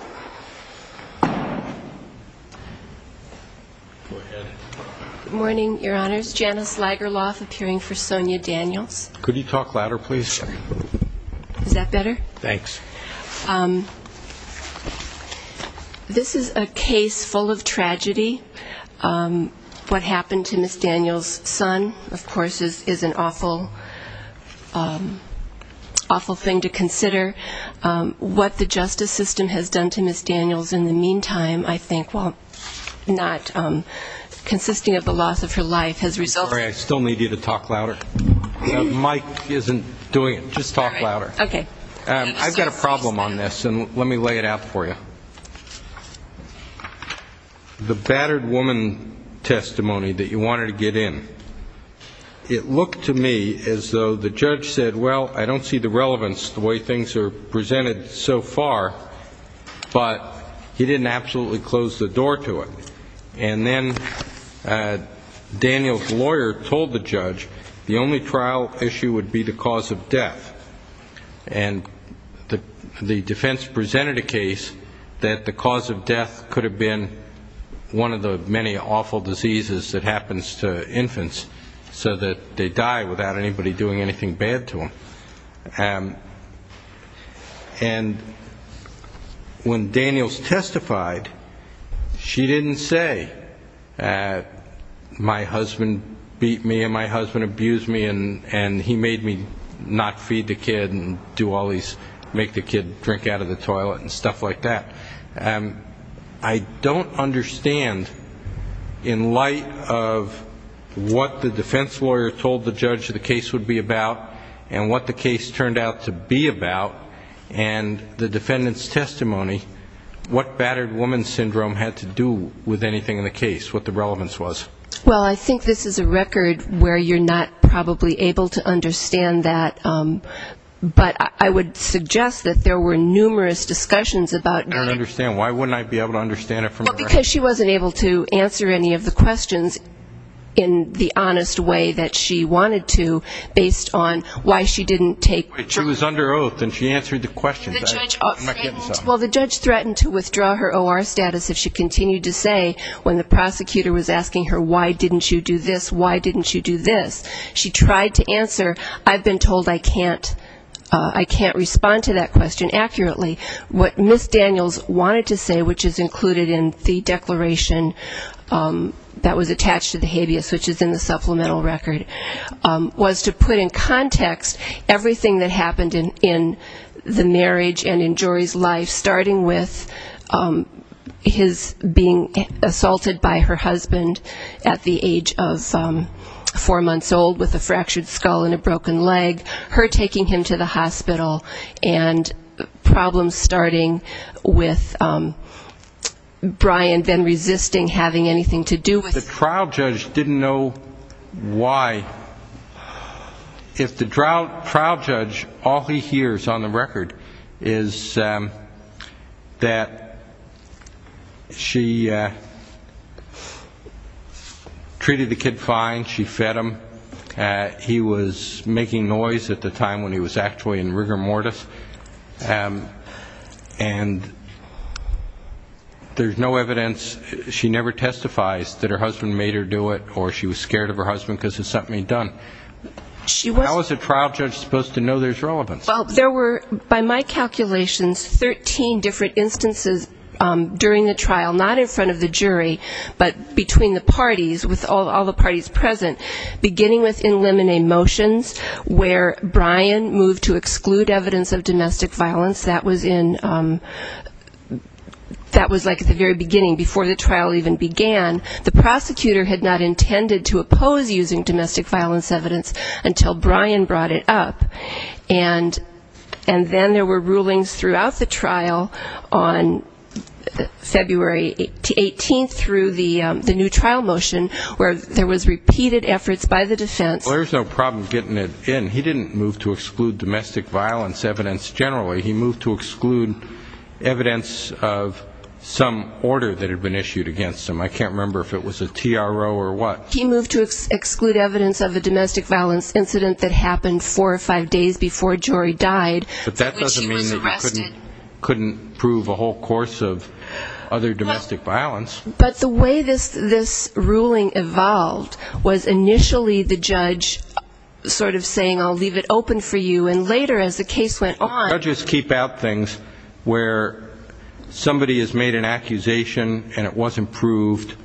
Good morning, your honors. Janice Lagerlof, appearing for Sonia Daniels. Could you talk louder, please? Sure. Is that better? Thanks. This is a case full of tragedy. What happened to Ms. Daniels' son, of course, is an awful thing to consider. What the justice system has done to Ms. Daniels in the meantime, I think, while not consisting of the loss of her life, has resulted in... I'm sorry. I still need you to talk louder. Mike isn't doing it. Just talk louder. Okay. I've got a problem on this, and let me lay it out for you. The battered woman testimony that you wanted to get in, it looked to me as though the judge said, well, I don't see the relevance, the way things are presented so far, but he didn't absolutely close the door to it. And then Daniels' lawyer told the judge the only trial issue would be the cause of death. And the defense presented a case that the cause of death could have been one of the many awful diseases that happens to infants so that they die without anybody doing anything bad to them. And when Daniels testified, she didn't say, my husband beat me and my husband abused me and he made me not feed the kid and make the kid drink out of the toilet and stuff like that. I don't understand, in light of what the defense lawyer told the judge the case would be about and what the case turned out to be about, and the defendant's testimony, what battered woman syndrome had to do with anything in the case, what the relevance was. Well, I think this is a record where you're not probably able to understand that, but I would suggest that there were numerous discussions about getting I don't understand. Why wouldn't I be able to understand it from her? Well, because she wasn't able to answer any of the questions in the honest way that she wanted to based on why she didn't take Wait, she was under oath and she answered the questions. I'm not getting this off my head. Well, the judge threatened to withdraw her O.R. status if she continued to say when the prosecutor was asking her why didn't you do this, why didn't you do this, she tried to I can't respond to that question accurately. What Ms. Daniels wanted to say, which is included in the declaration that was attached to the habeas, which is in the supplemental record, was to put in context everything that happened in the marriage and in Jory's life, starting with his being assaulted by her husband at the age of four months old with a fractured skull and a broken leg, her taking him to the hospital, and problems starting with Brian then resisting having anything to do with The trial judge didn't know why. If the trial judge, all he hears on the record is that she treated the kid fine, she fed him, he was making noise at the time when he was actually in rigor mortis, and there's no evidence, she never testifies that her husband made her do it or she was scared of her husband because of something he'd done. How is a trial judge supposed to know There were, by my calculations, 13 different instances during the trial, not in front of the jury, but between the parties, with all the parties present, beginning with in limine motions, where Brian moved to exclude evidence of domestic violence, that was like at the very beginning, before the trial even began. The prosecutor had not intended to oppose using domestic violence evidence until Brian brought it up. And then there were rulings throughout the trial on February 18th through the new trial motion, where there was repeated efforts by the defense. He didn't move to exclude domestic violence evidence generally, he moved to exclude evidence of some order that had been issued against him. I can't remember if it was a TRO or what. He moved to exclude evidence of a domestic violence incident that happened four or five days before Jory died. But that doesn't mean you couldn't prove a whole course of other domestic violence. But the way this ruling evolved was initially the judge sort of saying I'll leave it open for you, and later as the case went on. The judges keep out things where somebody has made an accusation and it wasn't proved,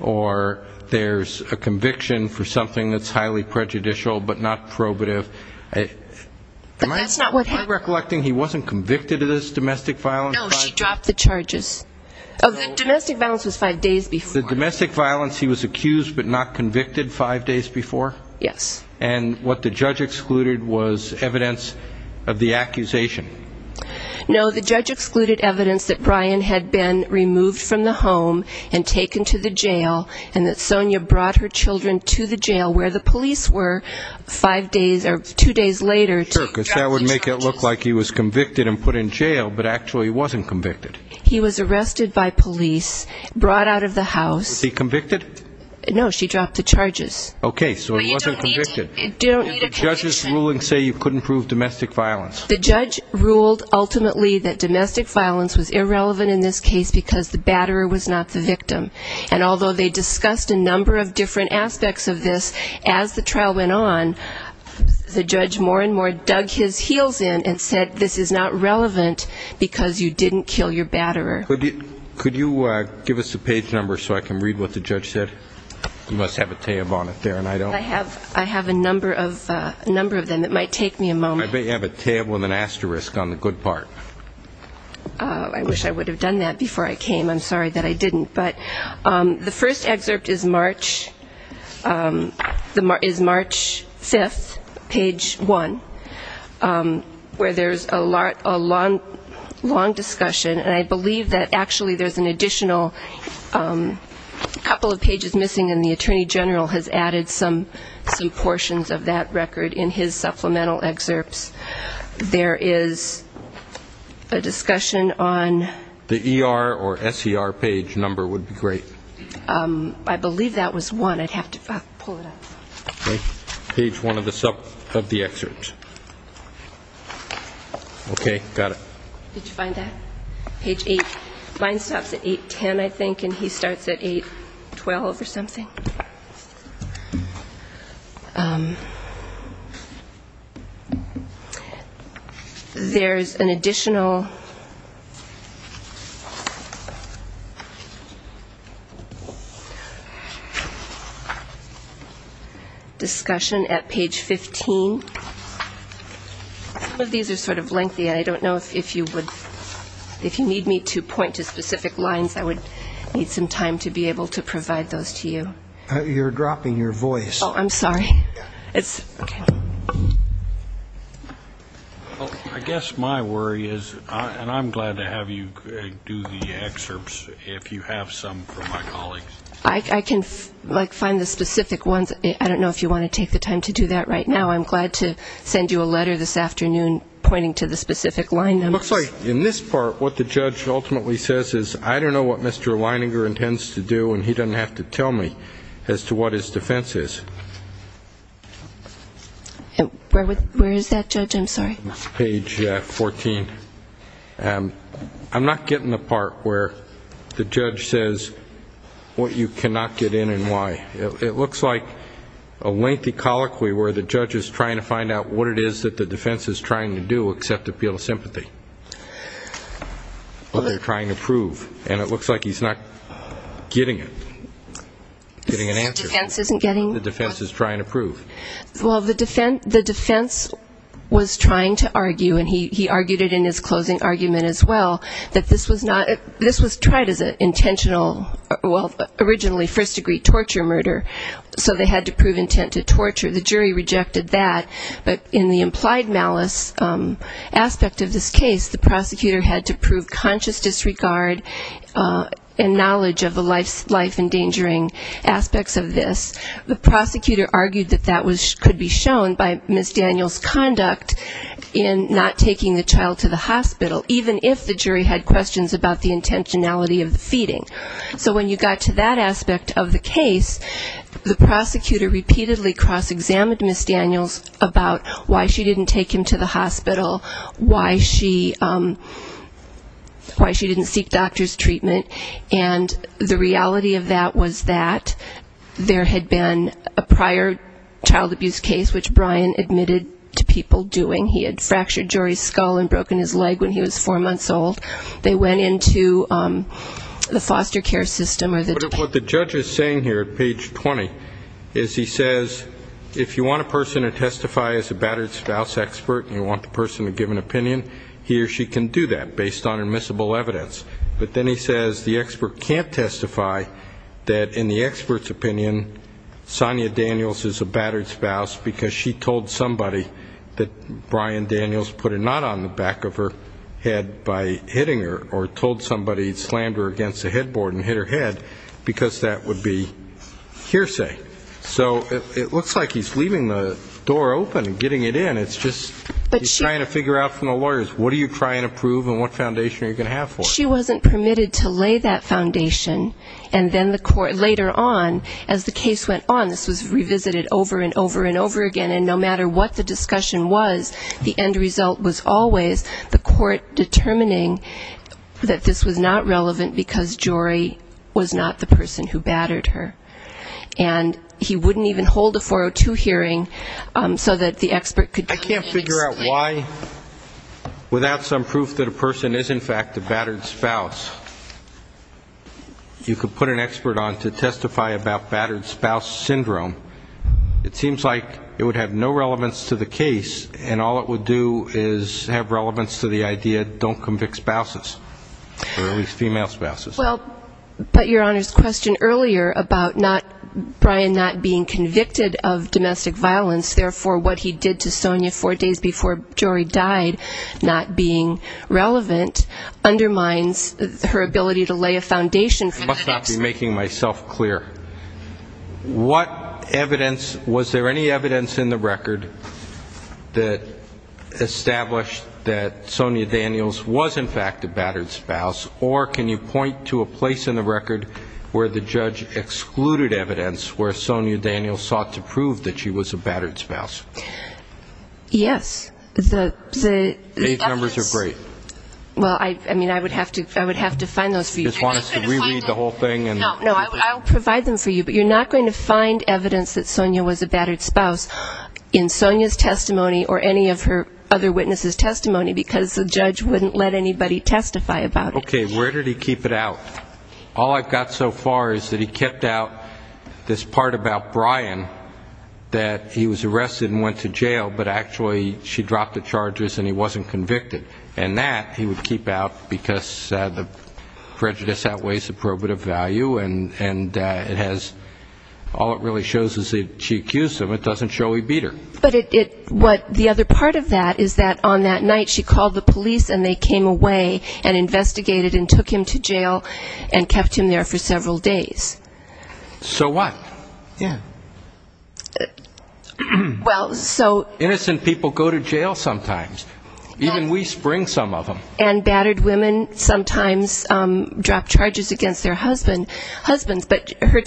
or there's a conviction for something that's highly prejudicial but not probative. Am I recollecting he wasn't convicted of this domestic violence? No, she dropped the charges. Domestic violence was five days before. The domestic violence he was accused but not convicted five days before? Yes. And what the judge excluded was evidence of the accusation? No, the judge excluded evidence that Brian had been removed from the home and taken to the jail and that Sonya brought her children to the jail where the police were five days or two days later to drop the charges. So it looked like he was convicted and put in jail but actually wasn't convicted? He was arrested by police, brought out of the house. Was he convicted? No, she dropped the charges. Okay, so he wasn't convicted. And the judge's ruling say you couldn't prove domestic violence? The judge ruled ultimately that domestic violence was irrelevant in this case because the batterer was not the victim. And although they discussed a number of different aspects of this, as the trial went on, the judge more and more dug his heels in and said this is not relevant because you didn't kill your batterer. Could you give us the page number so I can read what the judge said? You must have a tab on it there. I have a number of them. It might take me a moment. I bet you have a tab with an asterisk on the good part. I wish I would have done that before I came. I'm sorry that I didn't. But the first excerpt is March 5th, page one, where there's a long discussion, and I believe that actually there's an additional couple of pages missing and the attorney general has added some portions of that record in his supplemental excerpts. There is a discussion on... The ER or SER page number would be great. I believe that was one. I'd have to pull it up. Page one of the excerpts. Okay. Got it. Page eight. Mine stops at 810, I think, and he starts at 812 or something. There's an additional... Discussion at page 15. Some of these are sort of lengthy. I don't know if you would need me to point to specific lines. I would need some time to be able to provide those to you. You're dropping your voice. I guess my worry is, and I'm glad to have you do the excerpts if you have some for my colleagues. I can, like, find the specific ones. I don't know if you want to take the time to do that right now. I'm glad to send you a letter this afternoon pointing to the specific line numbers. In this part, what the judge ultimately says is, I don't know what Mr. Leininger intends to do, and he doesn't have to tell me as to what his defense is. Where is that, Judge? I'm sorry. Page 14. I'm not getting the part where the judge says what you cannot get in and why. It looks like a lengthy colloquy where the judge is trying to find out what it is that the defense is trying to do, except appeal to sympathy. What they're trying to prove, and it looks like he's not getting it. Getting an answer. The defense is trying to prove. Well, the defense was trying to argue, and he argued it in his closing argument as well, that this was tried as an intentional, well, originally first-degree torture murder, so they had to prove intent to torture. The jury rejected that, but in the implied malice aspect of this case, the prosecutor had to prove conscious disregard and knowledge of the life-endangering aspects of this. The prosecutor argued that that could be shown by Ms. Daniels' conduct in not taking the child to the hospital, even if the jury had questions about the intentionality of the feeding. So when you got to that aspect of the case, the prosecutor repeatedly cross-examined Ms. Daniels about why she didn't take him to the hospital, why she didn't seek doctor's treatment, and the reality of that was that there had to be an intent to torture. It had been a prior child abuse case, which Brian admitted to people doing. He had fractured Jory's skull and broken his leg when he was four months old. They went into the foster care system. What the judge is saying here, page 20, is he says if you want a person to testify as a battered spouse expert and you want the person to give an opinion, he or she can do that, based on admissible evidence. But then he says the expert can't testify that, in the expert's opinion, Sonia Daniels is a battered spouse because she told somebody that Brian Daniels put a knot on the back of her head by hitting her, or told somebody slammed her against the headboard and hit her head, because that would be hearsay. So it looks like he's leaving the door open and getting it in. It's just he's trying to figure out from the lawyers, what are you trying to prove and what foundation are you going to have for it? She wasn't permitted to lay that foundation, and then the court later on, as the case went on, this was revisited over and over and over again, and no matter what the discussion was, the end result was always the court determining that this was not relevant because Jory was not the person who battered her. And he wouldn't even hold a 402 hearing so that the expert could convince him. I can't figure out why, without some proof that a person is, in fact, a battered spouse, you could put an expert on to testify about battered spouse syndrome. It seems like it would have no relevance to the case, and all it would do is have relevance to the idea, don't convict spouses, or at least female spouses. Well, but Your Honor's question earlier about Brian not being convicted of domestic violence, therefore what he did to Sonya four days before Jory died, not being relevant, undermines her ability to lay a foundation for that expert. I must not be making myself clear. What evidence, was there any evidence in the record that established that Sonya Daniels was, in fact, a battered spouse, or can you point to any evidence in the record that established that Sonya Daniels was, in fact, a battered spouse? Yes. The evidence... These numbers are great. Well, I mean, I would have to find those for you. You just want us to reread the whole thing? No, no, I'll provide them for you, but you're not going to find evidence that Sonya was a battered spouse in Sonya's testimony or any of her other witnesses' testimony, because the judge wouldn't let anybody testify about it. Okay. Where did he keep it out? All I've got so far is that he kept out this part about Brian, that he was arrested and went to jail, but actually she dropped the charges and he wasn't convicted. And that he would keep out, because the prejudice outweighs the probative value, and it has all it really shows is that she accused him. It doesn't show he beat her. But the other part of that is that on that night she called the police and they came away and investigated and took him to jail and kept him there for several days. So what? Innocent people go to jail sometimes. Even we spring some of them. And battered women sometimes drop charges against their husbands, but her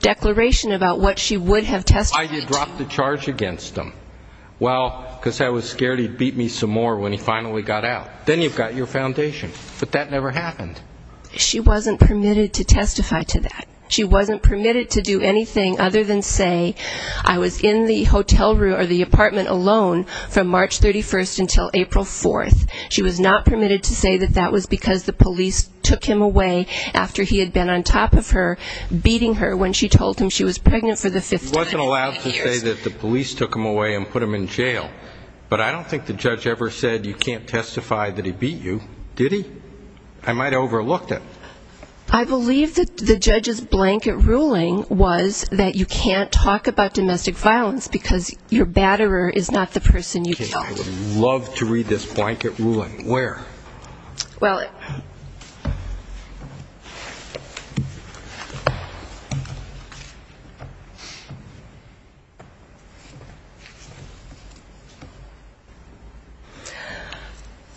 declaration about what she would have testified to... Well, because I was scared he'd beat me some more when he finally got out. Then you've got your foundation. But that never happened. She wasn't permitted to testify to that. She wasn't permitted to do anything other than say, I was in the hotel room or the apartment alone from March 31st until April 4th. She was not permitted to say that that was because the police took him away after he had been on top of her, beating her when she told him she was pregnant for the fifth time. She wasn't allowed to say that the police took him away and put him in jail. But I don't think the judge ever said you can't testify that he beat you. Did he? I might have overlooked it. I believe that the judge's blanket ruling was that you can't talk about domestic violence because your batterer is not the person you killed. Okay. I would love to read this blanket ruling. Where?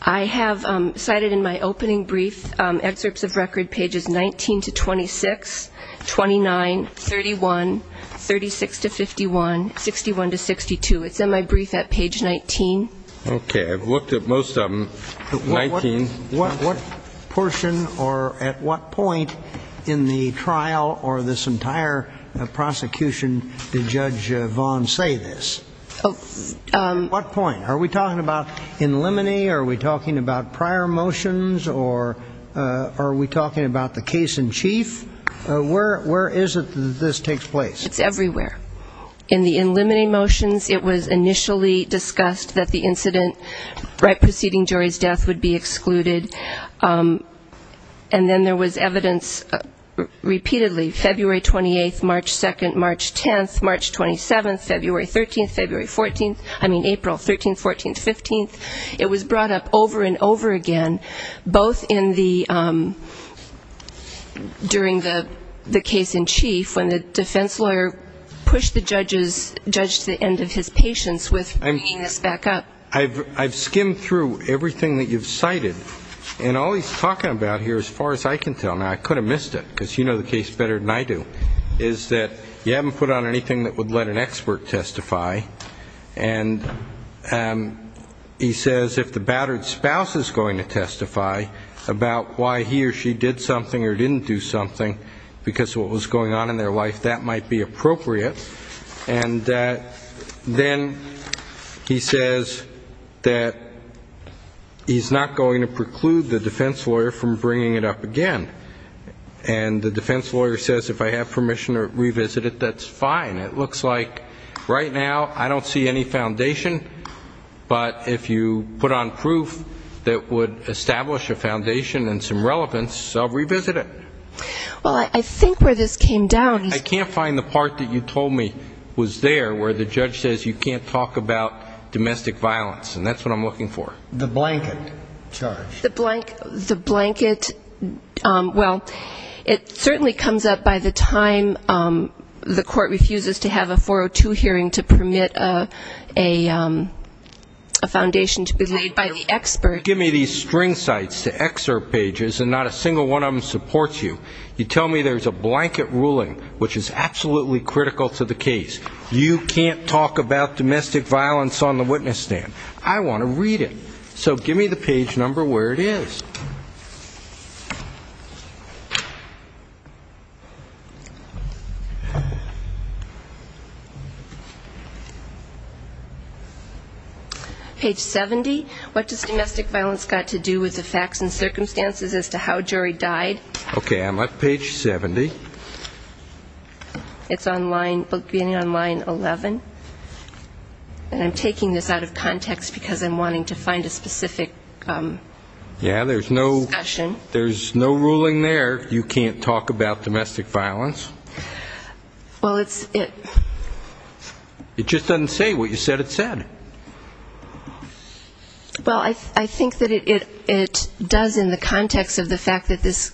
I have cited in my opening brief excerpts of record, pages 19 to 26, 29, 31, 36 to 51, 61 to 62. It's in my brief at page 19. Okay. I've looked at most of them. 19. What portion or at what point in the trial or this entire prosecution did Judge Vaughn say this? At what point? Are we talking about in limine? Are we talking about prior motions? Or are we talking about the case in chief? Where is it that this takes place? It's everywhere. In the in limine motions, it was initially discussed that the incident right preceding jury's death would be excluded from the case. And then there was evidence repeatedly, February 28th, March 2nd, March 10th, March 27th, February 13th, February 14th, I mean April 13th, 14th, 15th. It was brought up over and over again, both in the during the case in chief when the defense lawyer pushed the judge to the end of his patience with bringing this back up. I've skimmed through everything that you've cited. And all he's talking about here, as far as I can tell, and I could have missed it, because you know the case better than I do, is that you haven't put on anything that would let an expert testify. And he says if the battered spouse is going to testify about why he or she did something or didn't do something because of what was going on in their life, that might be appropriate. And then he says that he's not going to preclude the defense lawyer from bringing it up again. And the defense lawyer says if I have permission to revisit it, that's fine. It looks like right now I don't see any foundation, but if you put on proof that would establish a foundation and some relevance, I'll revisit it. I can't find the part that you told me was there where the judge says you can't talk about domestic violence, and that's what I'm looking for. The blanket, well, it certainly comes up by the time the court refuses to have a 402 hearing to permit a foundation to be laid by the expert. You don't give me these string sites to excerpt pages and not a single one of them supports you. You tell me there's a blanket ruling which is absolutely critical to the case. You can't talk about domestic violence on the witness stand. I want to read it. So give me the page number where it is. Page 70, what does domestic violence got to do with the facts and circumstances as to how a jury died? Okay, I'm at page 70. It's beginning on line 11. And I'm taking this out of context because I'm wanting to find a specific... There's no ruling there, you can't talk about domestic violence. It just doesn't say what you said it said. Well, I think that it does in the context of the fact that this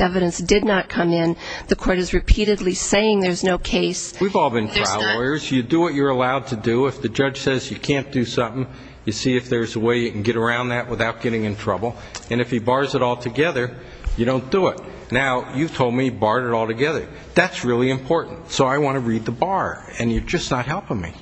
evidence did not come in. The court is repeatedly saying there's no case. We've all been trial lawyers. You do what you're allowed to do. If the judge says you can't do something, you see if there's a way you can get around that without getting in trouble. And if he bars it all together, you don't do it. Now, you've told me you've barred it all together. That's really important. So I want to read the bar, and you're just not helping me.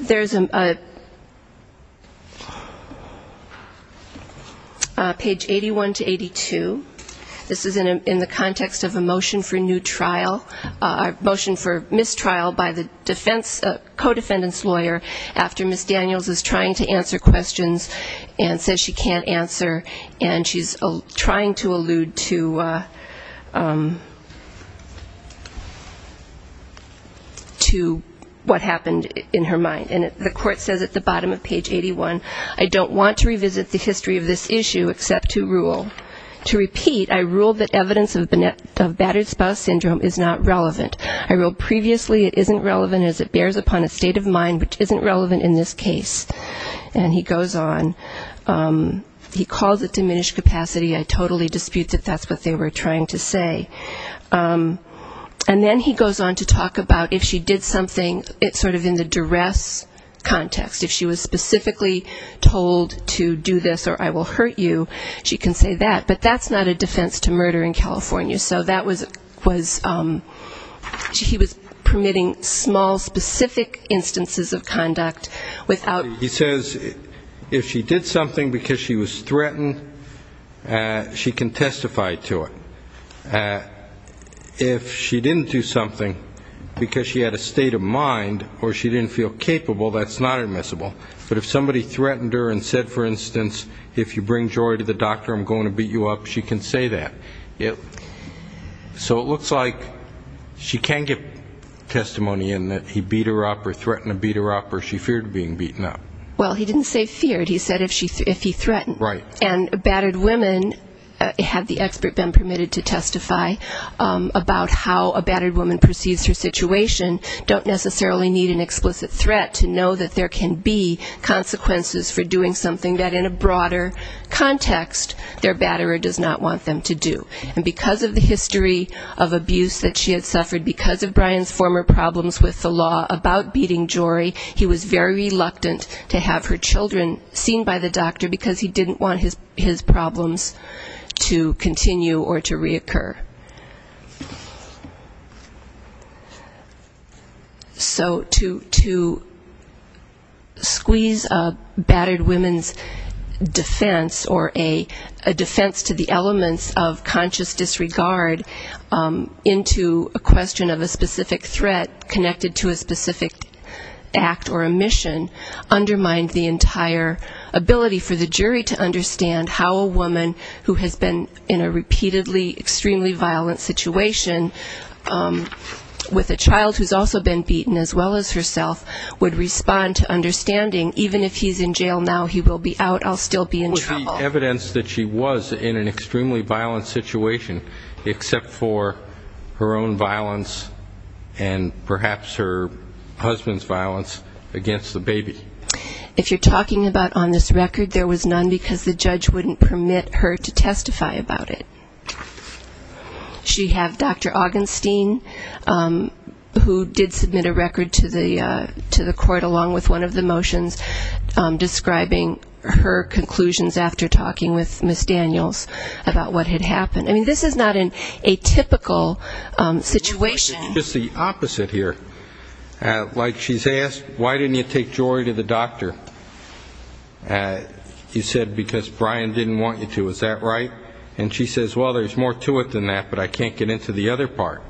There's a... Page 81 to 82. This is in the context of a motion for new trial, a motion for mistrial by the defense, co-defendant's lawyer, after Ms. Daniels is trying to answer questions and says she can't answer, and she's trying to allude to... what happened in her mind, and the court says at the bottom of page 81, I don't want to revisit the history of this issue except to rule. To repeat, I rule that evidence of battered spouse syndrome is not relevant. I rule previously it isn't relevant as it bears upon a state of mind which isn't relevant in this case. And he goes on. He calls it diminished capacity. I totally dispute that that's what they were trying to say. And then he goes on to talk about if she did something, it's sort of in the duress context. If she was specifically told to do this or I will hurt you, she can say that. But that's not a defense to murder in California. So that was he was permitting small, specific instances of conduct without... He says if she did something because she was threatened, she can testify to it. If she didn't do something because she had a state of mind or she didn't feel capable, that's not admissible. But if somebody threatened her and said, for instance, if you bring Jory to the doctor, I'm going to beat you up, she can say that. So it looks like she can get testimony in that he beat her up or threatened to beat her up or she feared being beaten up. Well, he didn't say feared. He said if he threatened. And battered women, had the expert been permitted to testify about how a battered woman perceives her situation, don't necessarily need an explicit threat to know that there can be consequences for doing something that in a broader context, their batterer does not want them to do. And because of the history of abuse that she had suffered, because of Brian's former problems with the law about beating Jory, he was very reluctant to have her children seen by the doctor because he didn't want his problems to continue or to reoccur. So to squeeze a battered women's defense or a battered women's defense, a defense to the elements of conscious disregard into a question of a specific threat connected to a specific act or a mission, undermined the entire ability for the jury to understand how a woman who has been in a repeatedly extremely violent situation with a child who's also been beaten as well as herself would respond to understanding, even if he's in jail now, he will be out, I'll still be in trouble. With the evidence that she was in an extremely violent situation, except for her own violence and perhaps her husband's violence against the baby. If you're talking about on this record, there was none because the judge wouldn't permit her to testify about it. She had Dr. Augenstein, who did submit a record to the court along with one of the motions, describing her conclusions after talking with Ms. Daniels about what had happened. I mean, this is not an atypical situation. Just the opposite here. Like she's asked, why didn't you take Jory to the doctor? You said because Brian didn't want you to, is that right? And she says, well, there's more to it than that, but I can't get into the other part.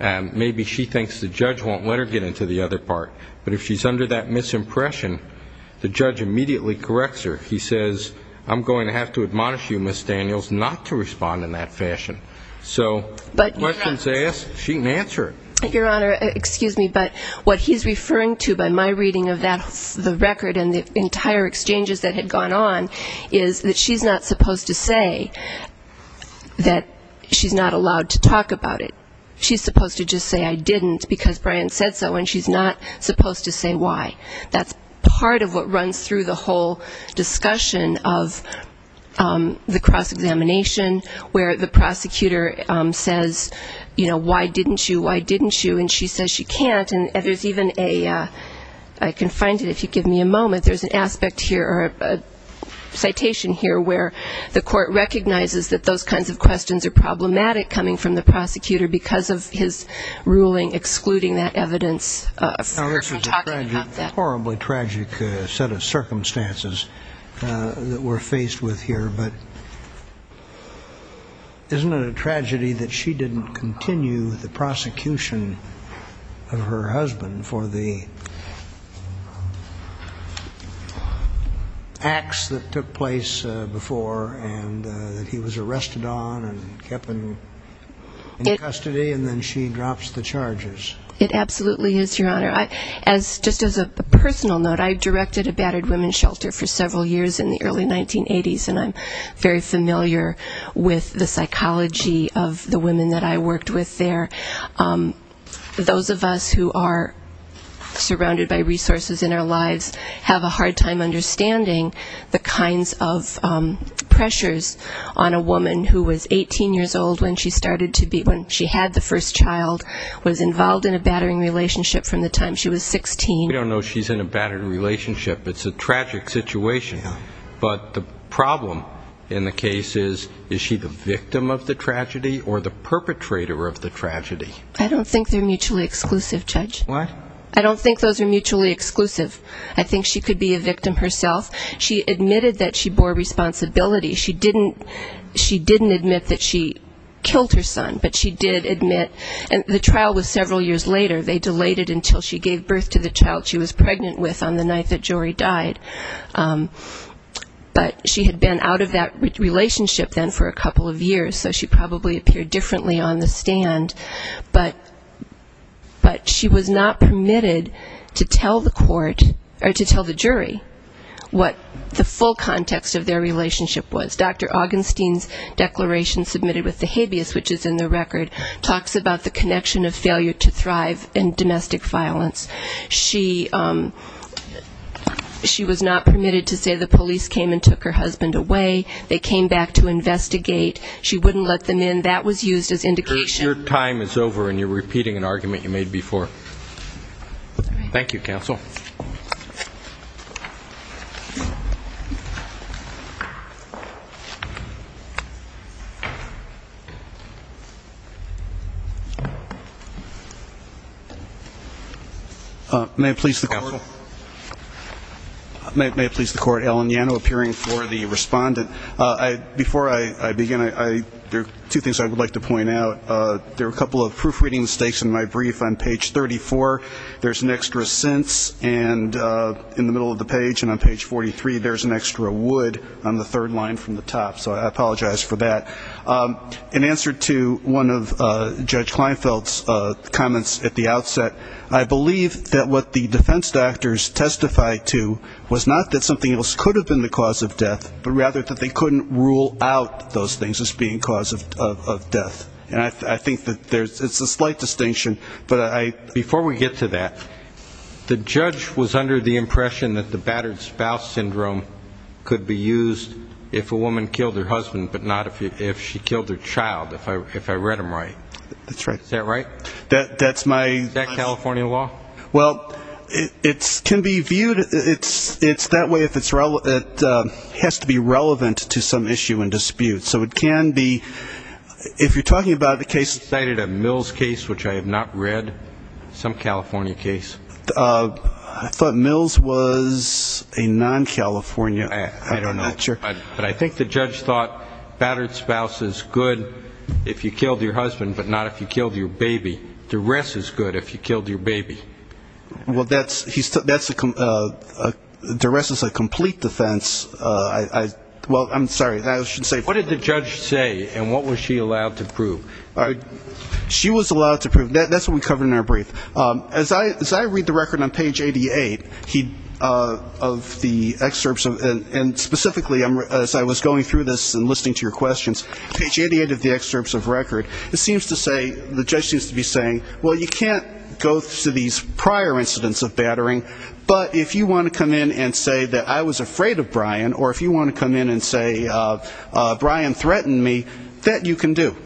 Maybe she thinks the judge won't let her get into the other part, but if she's under that misimpression, the judge immediately corrects her. He says, I'm going to have to admonish you, Ms. Daniels, not to respond in that fashion. So questions asked, she can answer it. Your Honor, excuse me, but what he's referring to by my reading of the record and the entire exchanges that had gone on is that she's not supposed to say that she's not allowed to talk about it. She's supposed to just say, I didn't, because Brian said so, and she's not supposed to say why. That's part of what runs through the whole discussion of the cross-examination, where the prosecutor says, you know, why didn't you, why didn't you, and she says she can't. And there's even a, I can find it if you give me a moment, there's an aspect here or a citation here where the court recognizes that those kinds of questions are problematic coming from the prosecutor because of his ruling excluding that evidence of her talking about that. This is a horribly tragic set of circumstances that we're faced with here, but isn't it a tragedy that she didn't continue the prosecution of her husband for the time she was in custody and then she drops the charges? It absolutely is, Your Honor. Just as a personal note, I directed a battered women's shelter for several years in the early 1980s, and I'm very familiar with the psychology of the women that I worked with there. Those of us who are surrounded by resources in our lives have a hard time understanding the kinds of pressures on a woman who was 18 years old when she was in custody. She started to be, when she had the first child, was involved in a battering relationship from the time she was 16. We don't know if she's in a battered relationship. It's a tragic situation. But the problem in the case is, is she the victim of the tragedy or the perpetrator of the tragedy? I don't think they're mutually exclusive, Judge. What? I don't think those are mutually exclusive. I think she could be a victim herself. She admitted that she bore responsibility. She didn't admit that she killed her son, but she did admit, and the trial was several years later. They delayed it until she gave birth to the child she was pregnant with on the night that Jory died. But she had been out of that relationship then for a couple of years, so she probably appeared differently on the stand. But she was not permitted to tell the court, or to tell the jury, what the full context of their relationship was. Dr. Augenstein's declaration submitted with the habeas, which is in the record, talks about the connection of failure to thrive and domestic violence. She was not permitted to say the police came and took her husband away. They came back to investigate. She wouldn't let them in. That was used as indication. Your time is over, and you're repeating an argument you made before. Thank you, counsel. May it please the court, Alan Yano, appearing for the respondent. Before I begin, there are two things I would like to point out. There are a couple of proofreading mistakes in my brief on page 34. There's an extra since, and in the middle of the page, and on page 43, there's an extra would on the third line from the top. So I apologize for that. In answer to one of Judge Kleinfeld's comments at the outset, I believe that what the defense doctors testified to was not that something else could have been the cause of death, but rather that they couldn't rule out those things as being cause of death. I think it's a slight distinction. Before we get to that, the judge was under the impression that the battered spouse syndrome could be used if a woman killed her husband, but not if she killed her child, if I read him right. Is that right? Is that California law? Well, it can be viewed, it's that way if it's relevant, it has to be relevant to some issue and dispute. So it can be, if you're talking about the case. You cited a Mills case, which I have not read, some California case. I thought Mills was a non-California, I'm not sure. But I think the judge thought battered spouse is good if you killed your husband, but not if you killed your baby. The rest is good if you killed your baby. The rest is a complete defense. What did the judge say, and what was she allowed to prove? She was allowed to prove, that's what we covered in our brief. As I read the record on page 88 of the excerpts, and specifically as I was going through this and listening to your questions, page 88 of the excerpts of the record, it seems to say, the judge seems to be saying, well, you can't go to these prior incidents of battering, but if you want to come in and say that I was afraid of Brian, or if you want to come in and say Brian threatened me, that you can do.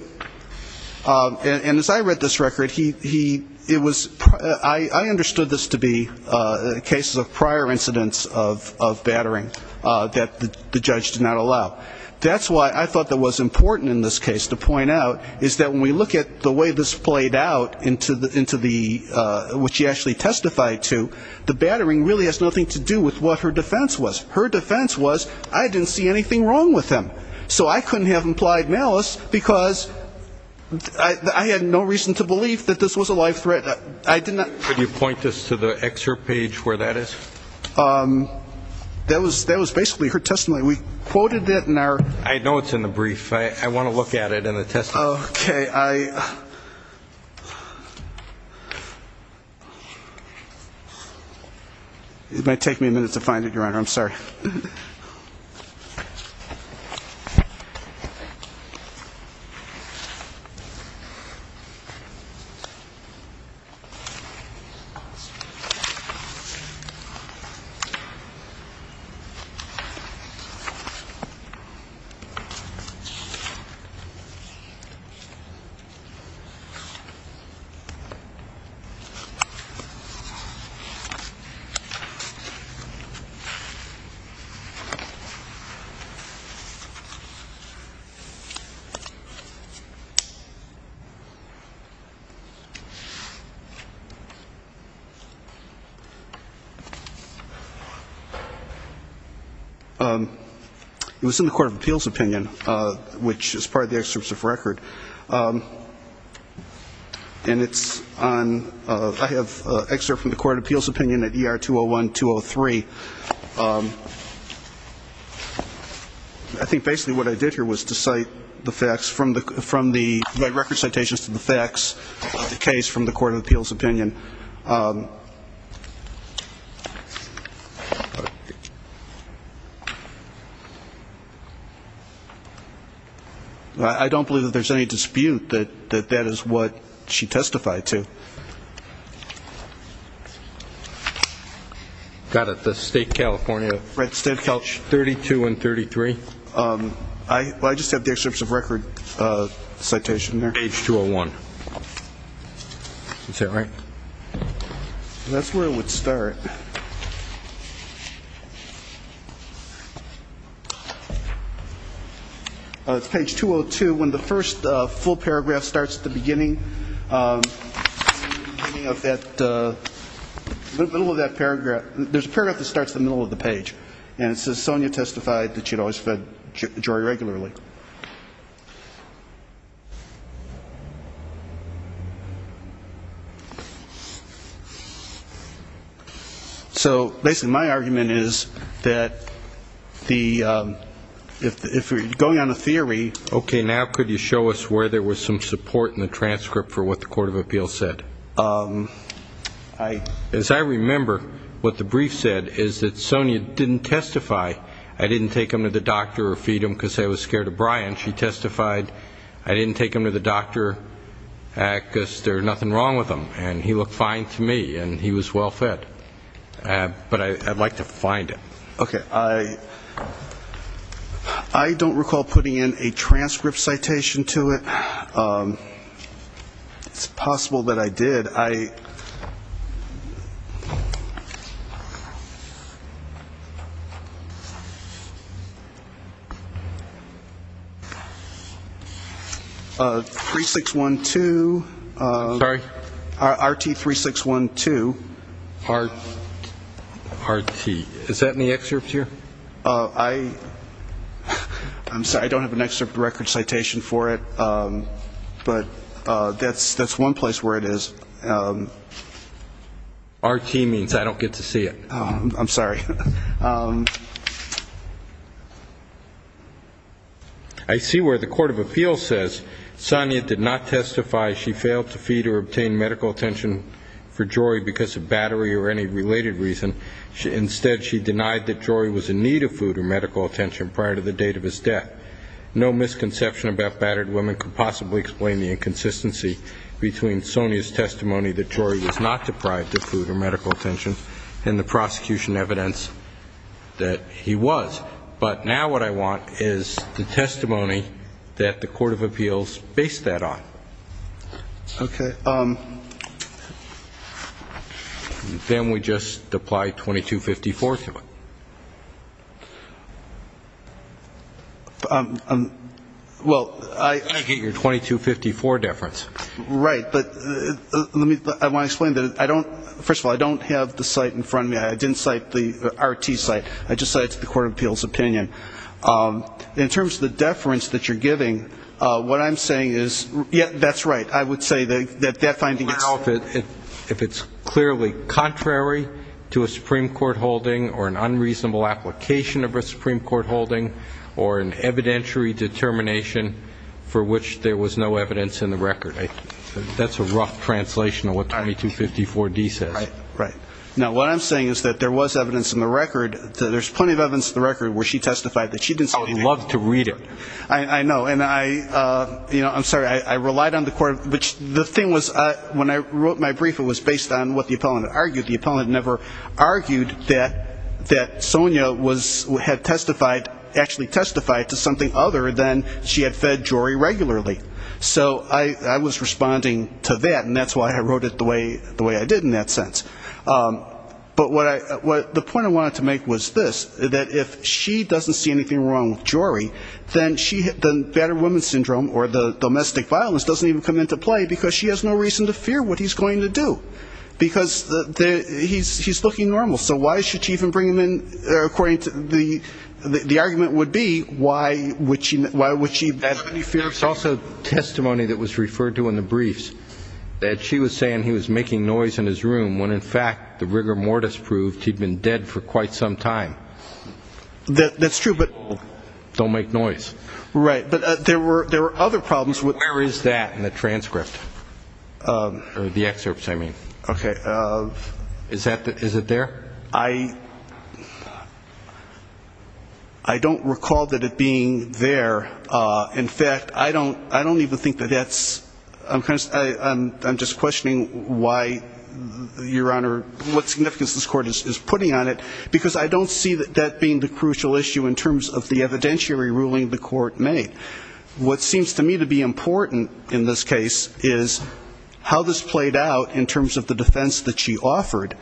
And as I read this record, he, it was, I understood this to be cases of prior incidents of battering that the judge did not allow. That's why I thought that was important in this case to point out, is that when we look at the way this played out into the, which she actually testified to, the battering really has nothing to do with what her defense was. Her defense was, I didn't see anything wrong with him, so I couldn't have implied malice, because I had no reason to believe that this was a life threat. I did not. Could you point this to the excerpt page where that is? That was basically her testimony. We quoted it in our. I know it's in the brief. Okay, I. It might take me a minute to find it. It was in the court of appeals opinion, which is part of the excerpts of record. And it's on, I have an excerpt from the court of appeals opinion at ER 201-203. I think basically what I did here was to cite the facts from the record citations to the facts of the case from the court of appeals opinion. I don't believe that there's any dispute that that is what she testified to. Got it. The state of California. 32 and 33. Well, I just have the excerpts of record citation there. Page 201. Is that right? That's where it would start. It's page 202. When the first full paragraph starts at the beginning, in the middle of that paragraph, there's a paragraph that starts in the middle of the page, and it says Sonia testified that she had always fed Jory regularly. So basically my argument is that if we're going on a theory. Okay, now could you show us where there was some support in the transcript for what the court of appeals said? As I remember, what the brief said is that Sonia didn't testify. I didn't take him to the doctor or feed him because I was scared of Brian. She testified I didn't take him to the doctor because there was nothing wrong with him, and he looked fine to me, and he was well fed. But I'd like to find it. Okay. I don't recall putting in a transcript citation to it. It's possible that I did. I'm sorry, I don't have an excerpt record citation for it, but that's one place where it is. R.T. means I don't get to see it. I'm sorry. Okay. Then we just apply 2254 to it. Well, I get your 2254 deference. Right, but I want to explain that I don't, first of all, I don't have the site in front of me. I didn't cite the R.T. site. I just cited the court of appeals opinion. In terms of the deference that you're giving, what I'm saying is, yeah, that's right, I would say that that finding is. That's a rough translation of what 2254D says. Right. Now, what I'm saying is that there was evidence in the record, there's plenty of evidence in the record where she testified that she didn't cite anything. I would love to read it. I know, and I'm sorry, I relied on the court, which the thing was when I wrote my brief, it was based on what the appellant argued. The appellant never argued that Sonia had testified, actually testified to something other than she had fed Jory regularly. So I was responding to that, and that's why I wrote it the way I did in that sense. But the point I wanted to make was this, that if she doesn't see anything wrong with Jory, then the battered woman syndrome or the domestic violence doesn't even come into play, because she has no reason to fear what he's going to do, because he's looking normal. So why should she even bring him in, according to the argument would be, why would she? There's also testimony that was referred to in the briefs that she was saying he was making noise in his room, when in fact the rigor mortis proved he'd been dead for quite some time. That's true, but. Don't make noise. Right, but there were other problems. Where is that in the transcript, or the excerpts, I mean? Okay, is it there? I don't recall that it being there. In fact, I don't even think that that's, I'm just questioning why, Your Honor, what significance this Court is putting on it, because I don't see that being the crucial issue in terms of the evidentiary ruling the Court made. What seems to me to be important in this case is how this played out in terms of the defense that she offered,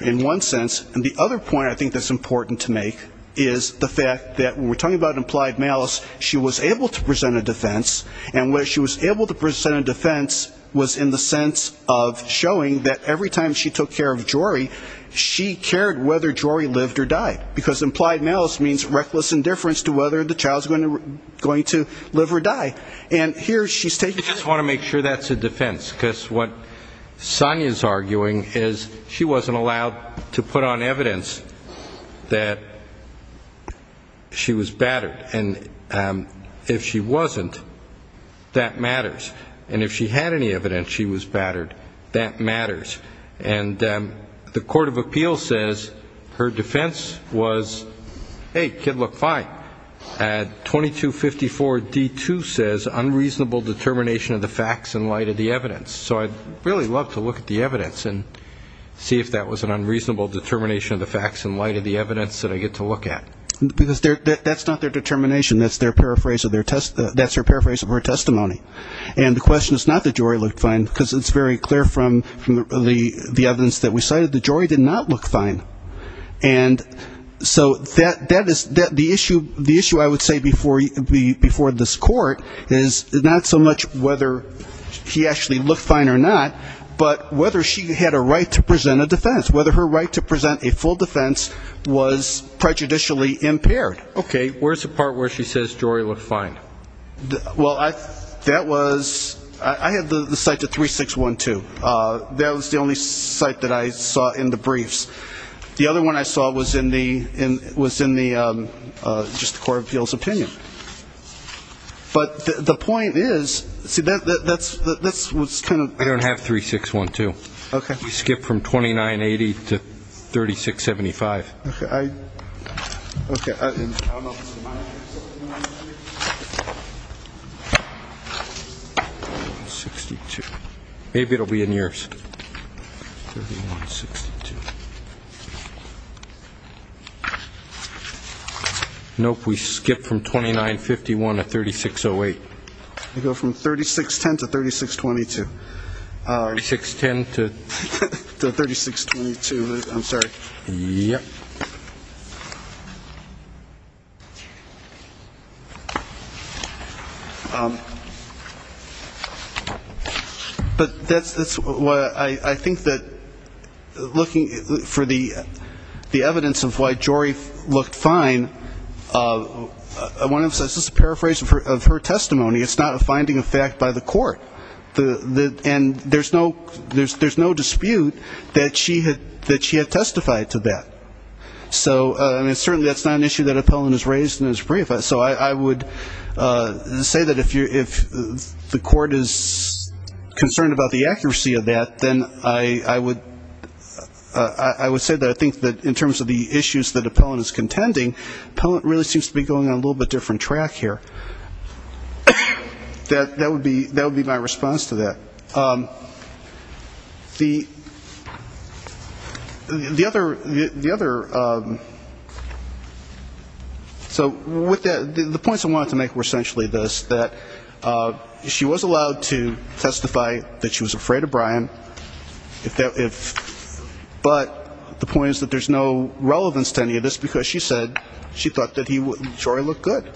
in one sense, and the other point I think that's important to make is the fact that when we're talking about implied malice, she was able to present a defense, and where she was able to present a defense was in the sense of showing that every time she took care of Jory, she cared whether Jory lived or died, because implied malice means reckless indifference to whether the child's going to live or die. And here she's taking the. I just want to make sure that's a defense, because what Sonia's arguing is she wasn't allowed to put on evidence that she was battered, and if she wasn't, that matters. And if she had any evidence she was battered, that matters. And the Court of Appeals says her defense was, hey, kid looked fine. 2254d2 says unreasonable determination of the facts in light of the evidence. So I'd really love to look at the evidence and see if that was an unreasonable determination of the facts in light of the evidence that I get to look at. Because that's not their determination, that's their paraphrase of her testimony. And the question is not that Jory looked fine, because it's very clear from the evidence that we cited that Jory did not look fine. And so the issue I would say before this Court is not so much whether he actually looked fine or not, but whether she had a right to present a defense, whether her right to present a full defense was prejudicially impaired. Okay, where's the part where she says Jory looked fine? Well, that was, I had the cite to 3612. That was the only cite that I saw in the briefs. The other one I saw was in the, just the Court of Appeals opinion. But the point is, see, that's what's kind of... We don't have 3612. Okay. We skipped from 2980 to 3675. Okay. I don't know if this is mine. 6262. Maybe it will be in yours. Nope, we skipped from 2951 to 3608. We go from 3610 to 3622. 3610 to 3622. I'm sorry. Yep. But that's why I think that looking for the evidence of why Jory looked fine, I want to emphasize, this is a paraphrase of her testimony. It's not a finding of fact by the court. And there's no dispute that she had testified to that. So, I mean, certainly that's not an issue that Appellant has raised in his brief. So I would say that if the court is concerned about the accuracy of that, then I would say that I think that in terms of the issues that Appellant is contending, Appellant really seems to be going on a little bit different track here. That would be my response to that. So the points I wanted to make were essentially this, that she was allowed to testify that she was afraid of Brian, but the point is that there's no relevance to any of this, because she said she thought that Jory looked good.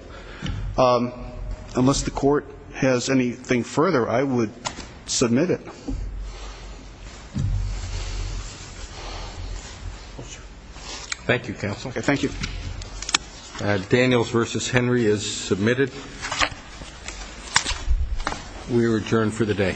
Unless the court has anything further, I would submit it. Thank you, counsel. Okay, thank you. Daniels v. Henry is submitted. We are adjourned for the day. Thank you.